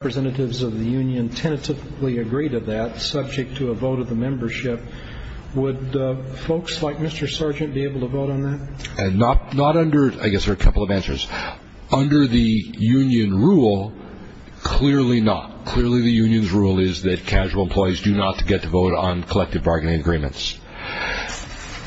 Representatives of the Union tentatively agree to that, subject to a vote of the membership. Would folks like Mr. Sargent be able to vote on that? Not under – I guess there are a couple of answers. Under the Union rule, clearly not. Clearly the Union's rule is that casual employees do not get to vote on collective bargaining agreements.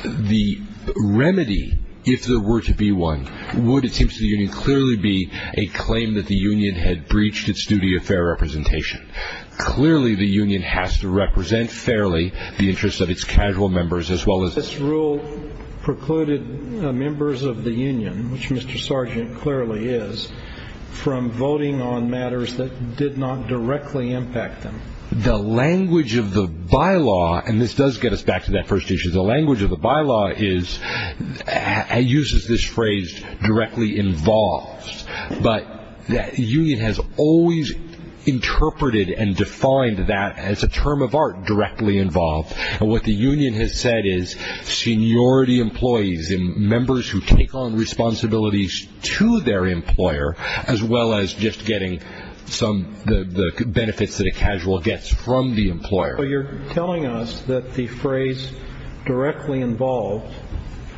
The remedy, if there were to be one, would, it seems to the Union, would clearly be a claim that the Union had breached its duty of fair representation. Clearly the Union has to represent fairly the interests of its casual members, as well as – This rule precluded members of the Union, which Mr. Sargent clearly is, from voting on matters that did not directly impact them. The language of the bylaw – and this does get us back to that first issue – the language of the bylaw uses this phrase, directly involved. But the Union has always interpreted and defined that as a term of art, directly involved. What the Union has said is, seniority employees, members who take on responsibilities to their employer, as well as just getting the benefits that a casual gets from the employer. So you're telling us that the phrase, directly involved,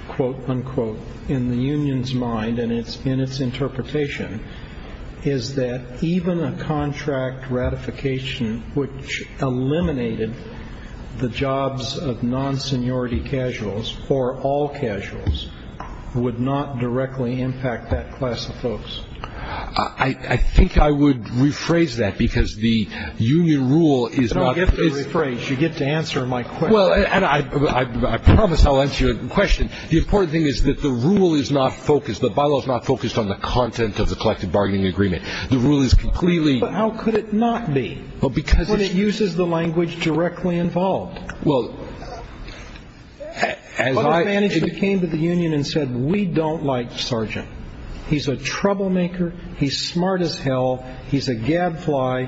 quote, unquote, in the Union's mind and in its interpretation, is that even a contract ratification which eliminated the jobs of non-seniority casuals, or all casuals, would not directly impact that class of folks. I think I would rephrase that, because the Union rule is not – If you rephrase, you get to answer my question. Well, and I promise I'll answer your question. The important thing is that the rule is not focused – the bylaw is not focused on the content of the collective bargaining agreement. The rule is completely – But how could it not be? Well, because it's – When it uses the language directly involved. Well, as I – It came to the Union and said, we don't like Sargent. He's a troublemaker. He's smart as hell. He's a gadfly.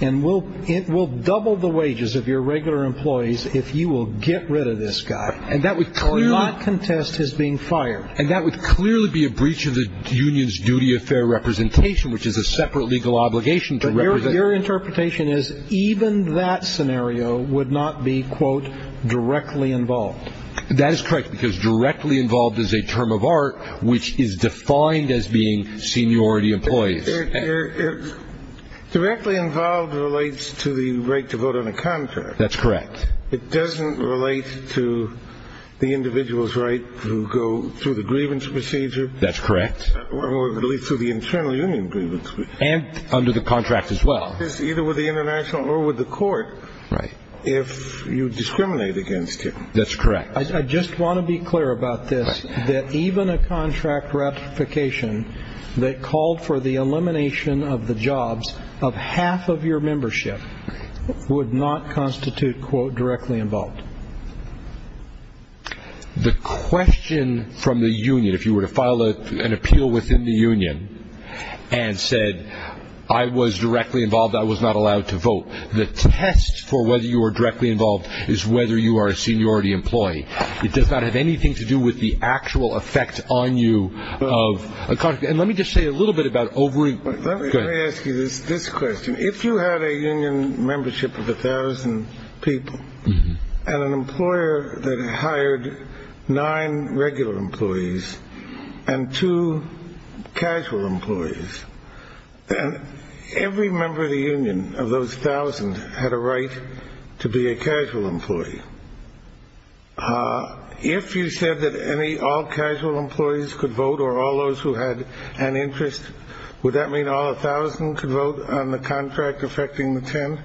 And we'll double the wages of your regular employees if you will get rid of this guy. And that would clearly – Or not contest his being fired. And that would clearly be a breach of the Union's duty of fair representation, which is a separate legal obligation to represent – But your interpretation is even that scenario would not be, quote, directly involved. That is correct, because directly involved is a term of art which is defined as being seniority employees. Directly involved relates to the right to vote on a contract. That's correct. It doesn't relate to the individual's right to go through the grievance procedure. That's correct. Or at least through the internal union grievance procedure. And under the contract as well. It's either with the international or with the court. Right. If you discriminate against him. That's correct. I just want to be clear about this, that even a contract ratification that called for the elimination of the jobs of half of your membership would not constitute, quote, directly involved. The question from the union, if you were to file an appeal within the union and said, I was directly involved, I was not allowed to vote, the test for whether you were directly involved is whether you are a seniority employee. It does not have anything to do with the actual effect on you of a contract. And let me just say a little bit about – Let me ask you this question. If you had a union membership of 1,000 people and an employer that hired nine regular employees and two casual employees, then every member of the union of those 1,000 had a right to be a casual employee. If you said that all casual employees could vote or all those who had an interest, would that mean all 1,000 could vote on the contract affecting the ten?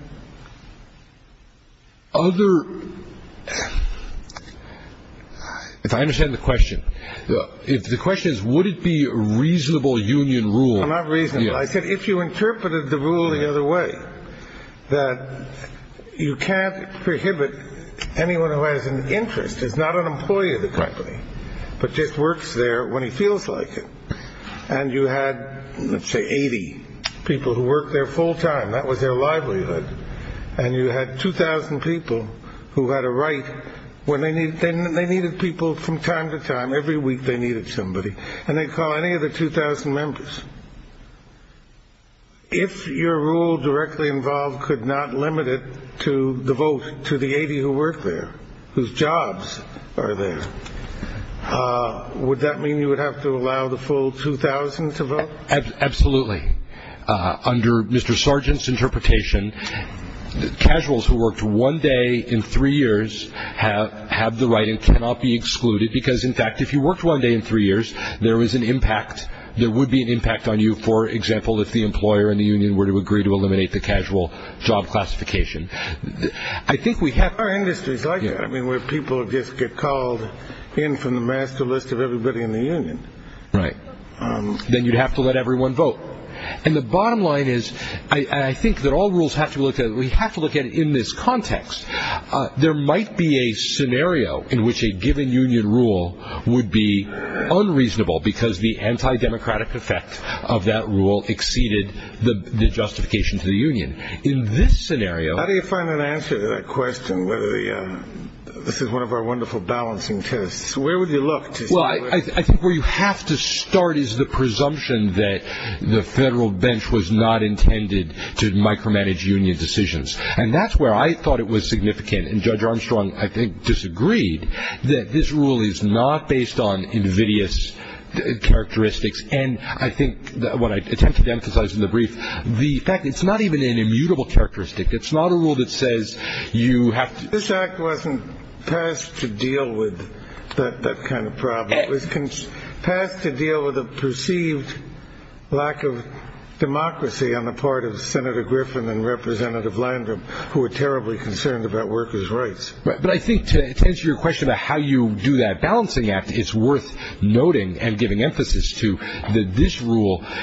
Other – If I understand the question. Not reasonable. I said if you interpreted the rule the other way, that you can't prohibit anyone who has an interest, is not an employee of the company, but just works there when he feels like it, and you had, let's say, 80 people who worked there full time, that was their livelihood, and you had 2,000 people who had a right when they needed people from time to time, every week they needed somebody, and they'd call any of the 2,000 members. If your rule directly involved could not limit it to the vote to the 80 who work there, whose jobs are there, would that mean you would have to allow the full 2,000 to vote? Absolutely. Under Mr. Sargent's interpretation, casuals who worked one day in three years have the right and cannot be excluded because, in fact, if you worked one day in three years, there was an impact, there would be an impact on you, for example, if the employer and the union were to agree to eliminate the casual job classification. I think we have – There are industries like that where people just get called in from the master list of everybody in the union. Right. Then you'd have to let everyone vote. And the bottom line is, and I think that all rules have to be looked at, we have to look at it in this context. There might be a scenario in which a given union rule would be unreasonable because the anti-democratic effect of that rule exceeded the justification to the union. In this scenario – How do you find an answer to that question, whether the – this is one of our wonderful balancing tests. Where would you look to see where – Well, I think where you have to start is the presumption that the federal bench was not intended to micromanage union decisions. And that's where I thought it was significant. And Judge Armstrong, I think, disagreed that this rule is not based on invidious characteristics. And I think what I attempted to emphasize in the brief, the fact that it's not even an immutable characteristic. It's not a rule that says you have to – This act wasn't passed to deal with that kind of problem. It was passed to deal with a perceived lack of democracy on the part of Senator Griffin and Representative Landrum, who were terribly concerned about workers' rights. But I think to answer your question about how you do that balancing act, it's worth noting and giving emphasis to that this rule –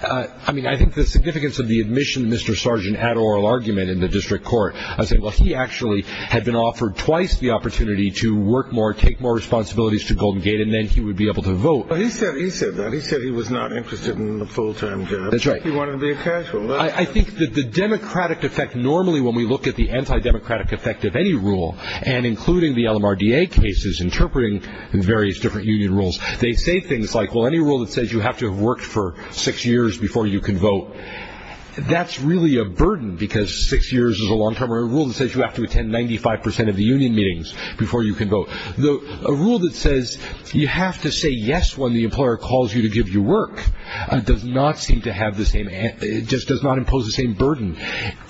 I mean, I think the significance of the admission that Mr. Sargent had an oral argument in the district court. I said, well, he actually had been offered twice the opportunity to work more, take more responsibilities to Golden Gate, and then he would be able to vote. He said that. He said he was not interested in a full-time job. That's right. He wanted to be a casual. I think that the democratic effect normally when we look at the anti-democratic effect of any rule, and including the LMRDA cases interpreting various different union rules, they say things like, well, any rule that says you have to have worked for six years before you can vote, that's really a burden because six years is a long-term rule that says you have to attend 95 percent of the union meetings before you can vote. So a rule that says you have to say yes when the employer calls you to give you work does not seem to have the same – it just does not impose the same burden.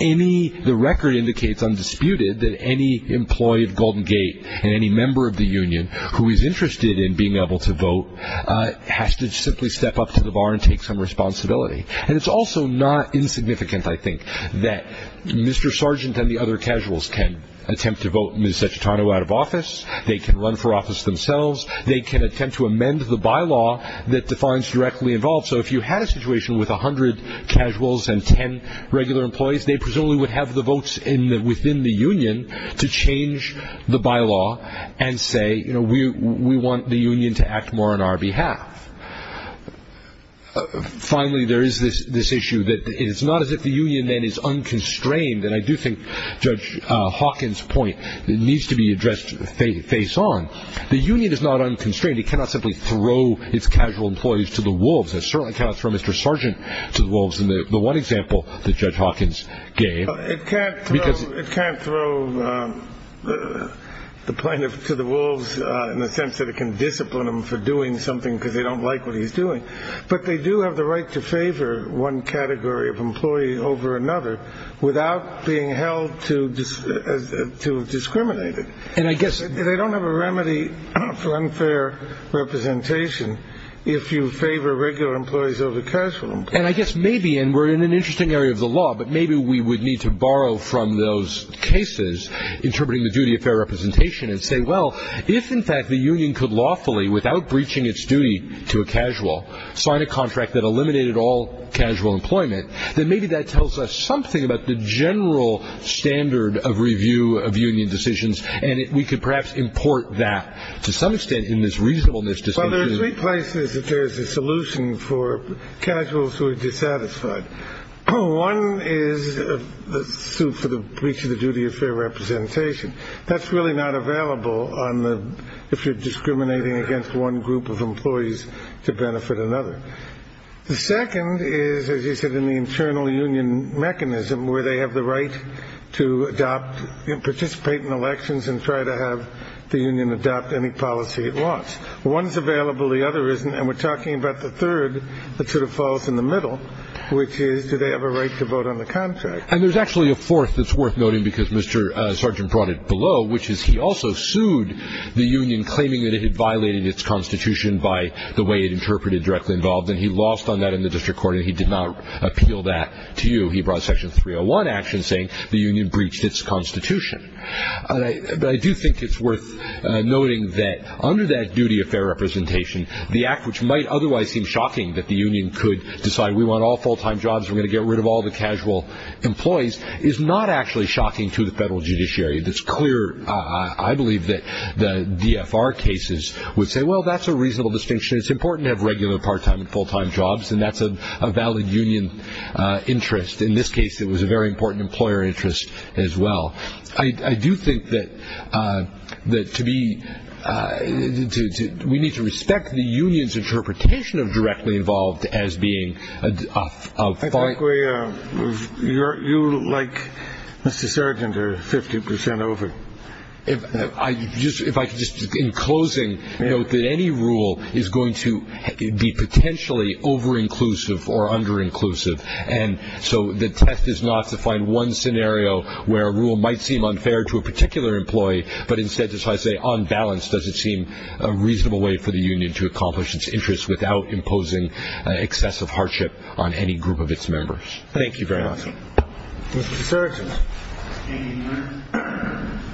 Any – the record indicates undisputed that any employee of Golden Gate and any member of the union who is interested in being able to vote has to simply step up to the bar and take some responsibility. And it's also not insignificant, I think, that Mr. Sargent and the other casuals can attempt to vote Ms. Cecitano out of office. They can run for office themselves. They can attempt to amend the bylaw that defines directly involved. So if you had a situation with 100 casuals and 10 regular employees, they presumably would have the votes within the union to change the bylaw and say, you know, we want the union to act more on our behalf. Finally, there is this issue that it is not as if the union then is unconstrained, and I do think Judge Hawkins' point needs to be addressed face on. The union is not unconstrained. It cannot simply throw its casual employees to the wolves. It certainly cannot throw Mr. Sargent to the wolves in the one example that Judge Hawkins gave. It can't throw the plaintiff to the wolves in the sense that it can discipline them for doing something because they don't like what he's doing. But they do have the right to favor one category of employee over another without being held to discriminate it. They don't have a remedy for unfair representation if you favor regular employees over casual employees. And I guess maybe, and we're in an interesting area of the law, but maybe we would need to borrow from those cases interpreting the duty of fair representation and say, well, if, in fact, the union could lawfully, without breaching its duty to a casual, sign a contract that eliminated all casual employment, then maybe that tells us something about the general standard of review of union decisions, and we could perhaps import that to some extent in this reasonableness distinction. Well, there are three places that there is a solution for casuals who are dissatisfied. One is the suit for the breach of the duty of fair representation. That's really not available if you're discriminating against one group of employees to benefit another. The second is, as you said, in the internal union mechanism where they have the right to adopt and participate in elections and try to have the union adopt any policy it wants. One is available. The other isn't, and we're talking about the third that sort of falls in the middle, which is do they have a right to vote on the contract. And there's actually a fourth that's worth noting because Mr. Sargent brought it below, which is he also sued the union claiming that it had violated its constitution by the way it interpreted directly involved, and he lost on that in the district court, and he did not appeal that to you. He brought Section 301 action saying the union breached its constitution. But I do think it's worth noting that under that duty of fair representation, the act which might otherwise seem shocking that the union could decide we want all full-time jobs, we're going to get rid of all the casual employees, is not actually shocking to the federal judiciary. It's clear. I believe that the DFR cases would say, well, that's a reasonable distinction. It's important to have regular part-time and full-time jobs, and that's a valid union interest. In this case, it was a very important employer interest as well. I do think that we need to respect the union's interpretation of directly involved as being a fine. You, like Mr. Sargent, are 50 percent over. If I could just, in closing, note that any rule is going to be potentially over-inclusive or under-inclusive, and so the test is not to find one scenario where a rule might seem unfair to a particular employee, but instead to try to say on balance does it seem a reasonable way for the union to accomplish its interest without imposing excessive hardship on any group of its members. Thank you very much. Mr. Sargent. Any other questions?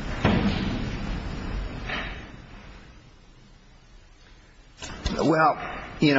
Well,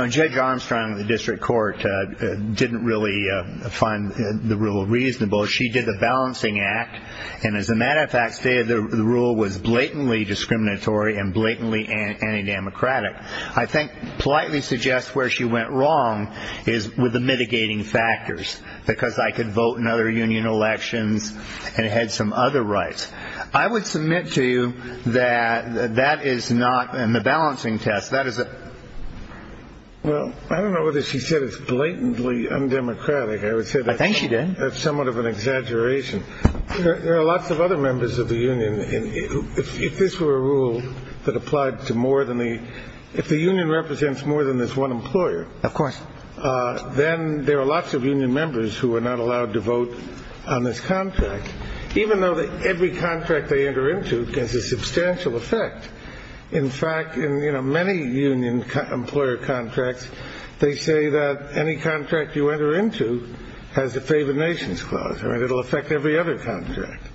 Judge Armstrong of the district court didn't really find the rule reasonable. She did the balancing act, and as a matter of fact, stated the rule was blatantly discriminatory and blatantly anti-democratic. I think politely suggest where she went wrong is with the mitigating factors, because I could vote in other union elections and had some other rights. I would submit to you that that is not in the balancing test. Well, I don't know whether she said it's blatantly undemocratic. I would say that's somewhat of an exaggeration. There are lots of other members of the union. If this were a rule that applied to more than the union represents more than this one employer, then there are lots of union members who are not allowed to vote on this contract, even though every contract they enter into has a substantial effect. In fact, in many union employer contracts, they say that any contract you enter into has a favored nations clause, and it will affect every other contract.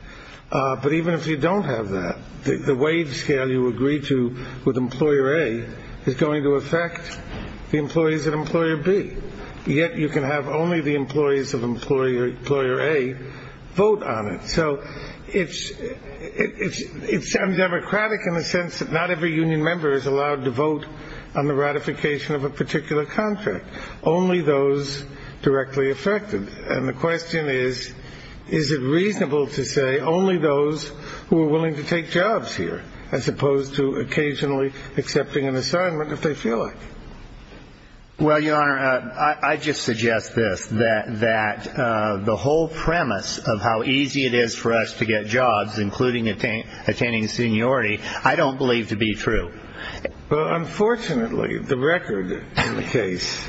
But even if you don't have that, the wage scale you agree to with Employer A is going to affect the employees of Employer B. Yet you can have only the employees of Employer A vote on it. So it's undemocratic in the sense that not every union member is allowed to vote on the ratification of a particular contract, only those directly affected. And the question is, is it reasonable to say only those who are willing to take jobs here, as opposed to occasionally accepting an assignment if they feel like it? Well, Your Honor, I just suggest this, that the whole premise of how easy it is for us to get jobs, including attaining seniority, I don't believe to be true. Well, unfortunately, the record in the case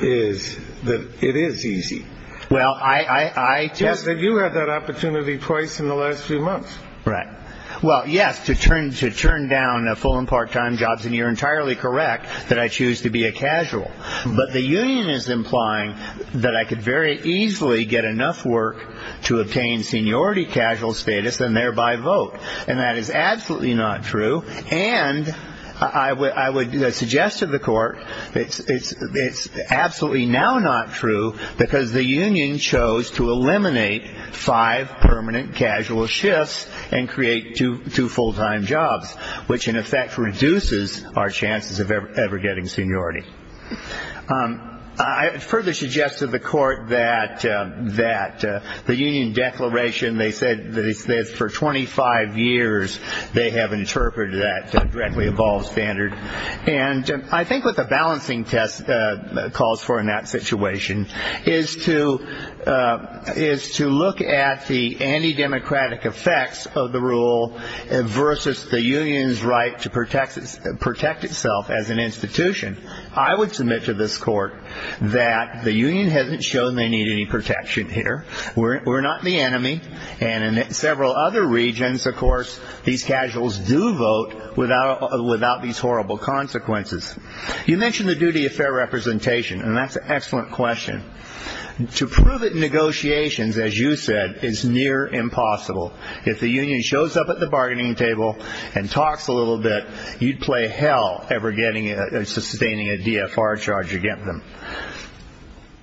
is that it is easy. Well, I just... You had that opportunity twice in the last few months. Right. Well, yes, to turn down full and part-time jobs, and you're entirely correct that I choose to be a casual. But the union is implying that I could very easily get enough work to obtain seniority casual status and thereby vote. And that is absolutely not true. And I would suggest to the Court it's absolutely now not true because the union chose to eliminate five permanent casual shifts and create two full-time jobs, which, in effect, reduces our chances of ever getting seniority. I further suggest to the Court that the union declaration, they said that for 25 years they have interpreted that dreadfully evolved standard. And I think what the balancing test calls for in that situation is to look at the anti-democratic effects of the rule versus the union's right to protect itself as an institution. I would submit to this Court that the union hasn't shown they need any protection here. We're not the enemy. And in several other regions, of course, these casuals do vote without these horrible consequences. You mentioned the duty of fair representation, and that's an excellent question. To prove it in negotiations, as you said, is near impossible. If the union shows up at the bargaining table and talks a little bit, you'd play hell ever sustaining a DFR charge against them.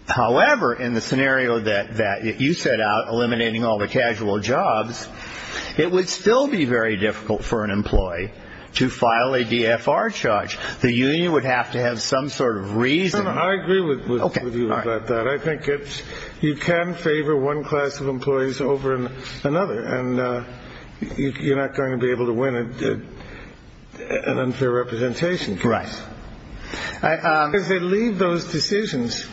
However, in the scenario that you set out, eliminating all the casual jobs, it would still be very difficult for an employee to file a DFR charge. The union would have to have some sort of reason. I agree with you about that. I think you can favor one class of employees over another, and you're not going to be able to win an unfair representation case. Right. Because they leave those decisions.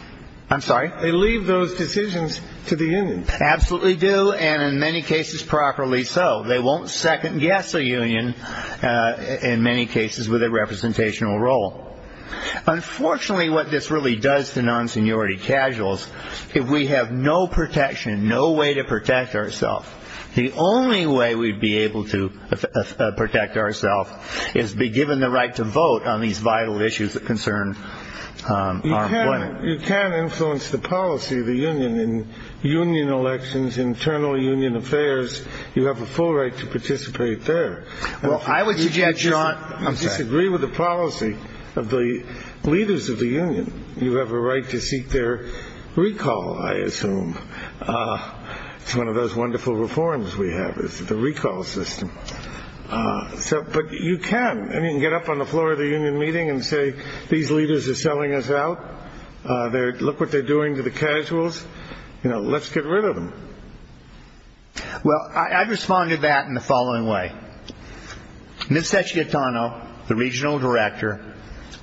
I'm sorry? They leave those decisions to the union. Absolutely do, and in many cases, properly so. They won't second-guess a union, in many cases, with a representational role. Unfortunately, what this really does to non-seniority casuals, if we have no protection, no way to protect ourselves, the only way we'd be able to protect ourselves is to be given the right to vote on these vital issues that concern our employment. You can't influence the policy of the union in union elections, internal union affairs. You have a full right to participate there. Well, I would suggest, John, I'm sorry. You disagree with the policy of the leaders of the union. You have a right to seek their recall, I assume. It's one of those wonderful reforms we have is the recall system. But you can. I mean, you can get up on the floor of the union meeting and say, these leaders are selling us out. Look what they're doing to the casuals. Let's get rid of them. Well, I've responded to that in the following way. Ms. Cecchietano, the regional director,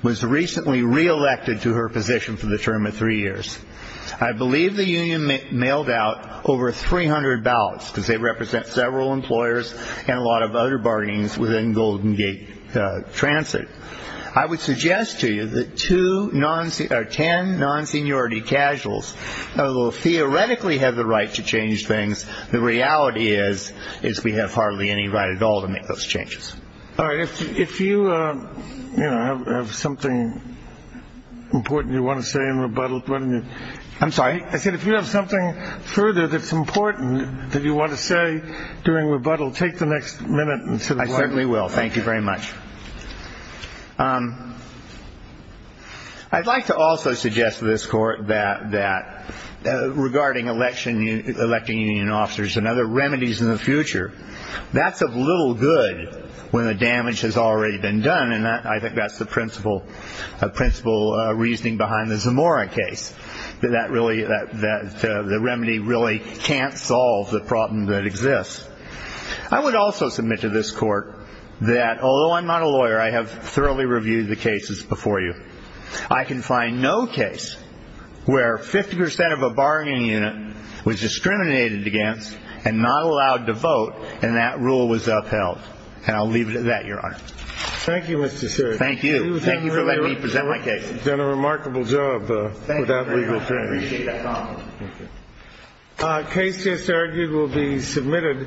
was recently re-elected to her position for the term of three years. I believe the union mailed out over 300 ballots because they represent several employers and a lot of other bargains within Golden Gate Transit. I would suggest to you that two or ten non-seniority casuals will theoretically have the right to change things. The reality is we have hardly any right at all to make those changes. All right. If you have something important you want to say in rebuttal. I'm sorry. I said if you have something further that's important that you want to say during rebuttal, take the next minute. I certainly will. Thank you very much. I'd like to also suggest to this court that regarding electing union officers and other remedies in the future, that's of little good when the damage has already been done, and I think that's the principal reasoning behind the Zamora case, that the remedy really can't solve the problem that exists. I would also submit to this court that although I'm not a lawyer, I have thoroughly reviewed the cases before you. I can find no case where 50% of a bargaining unit was discriminated against and not allowed to vote, and that rule was upheld. And I'll leave it at that, Your Honor. Thank you, Mr. Sir. Thank you. Thank you for letting me present my case. You've done a remarkable job with that legal term. Thank you very much. I appreciate that. Case just argued will be submitted.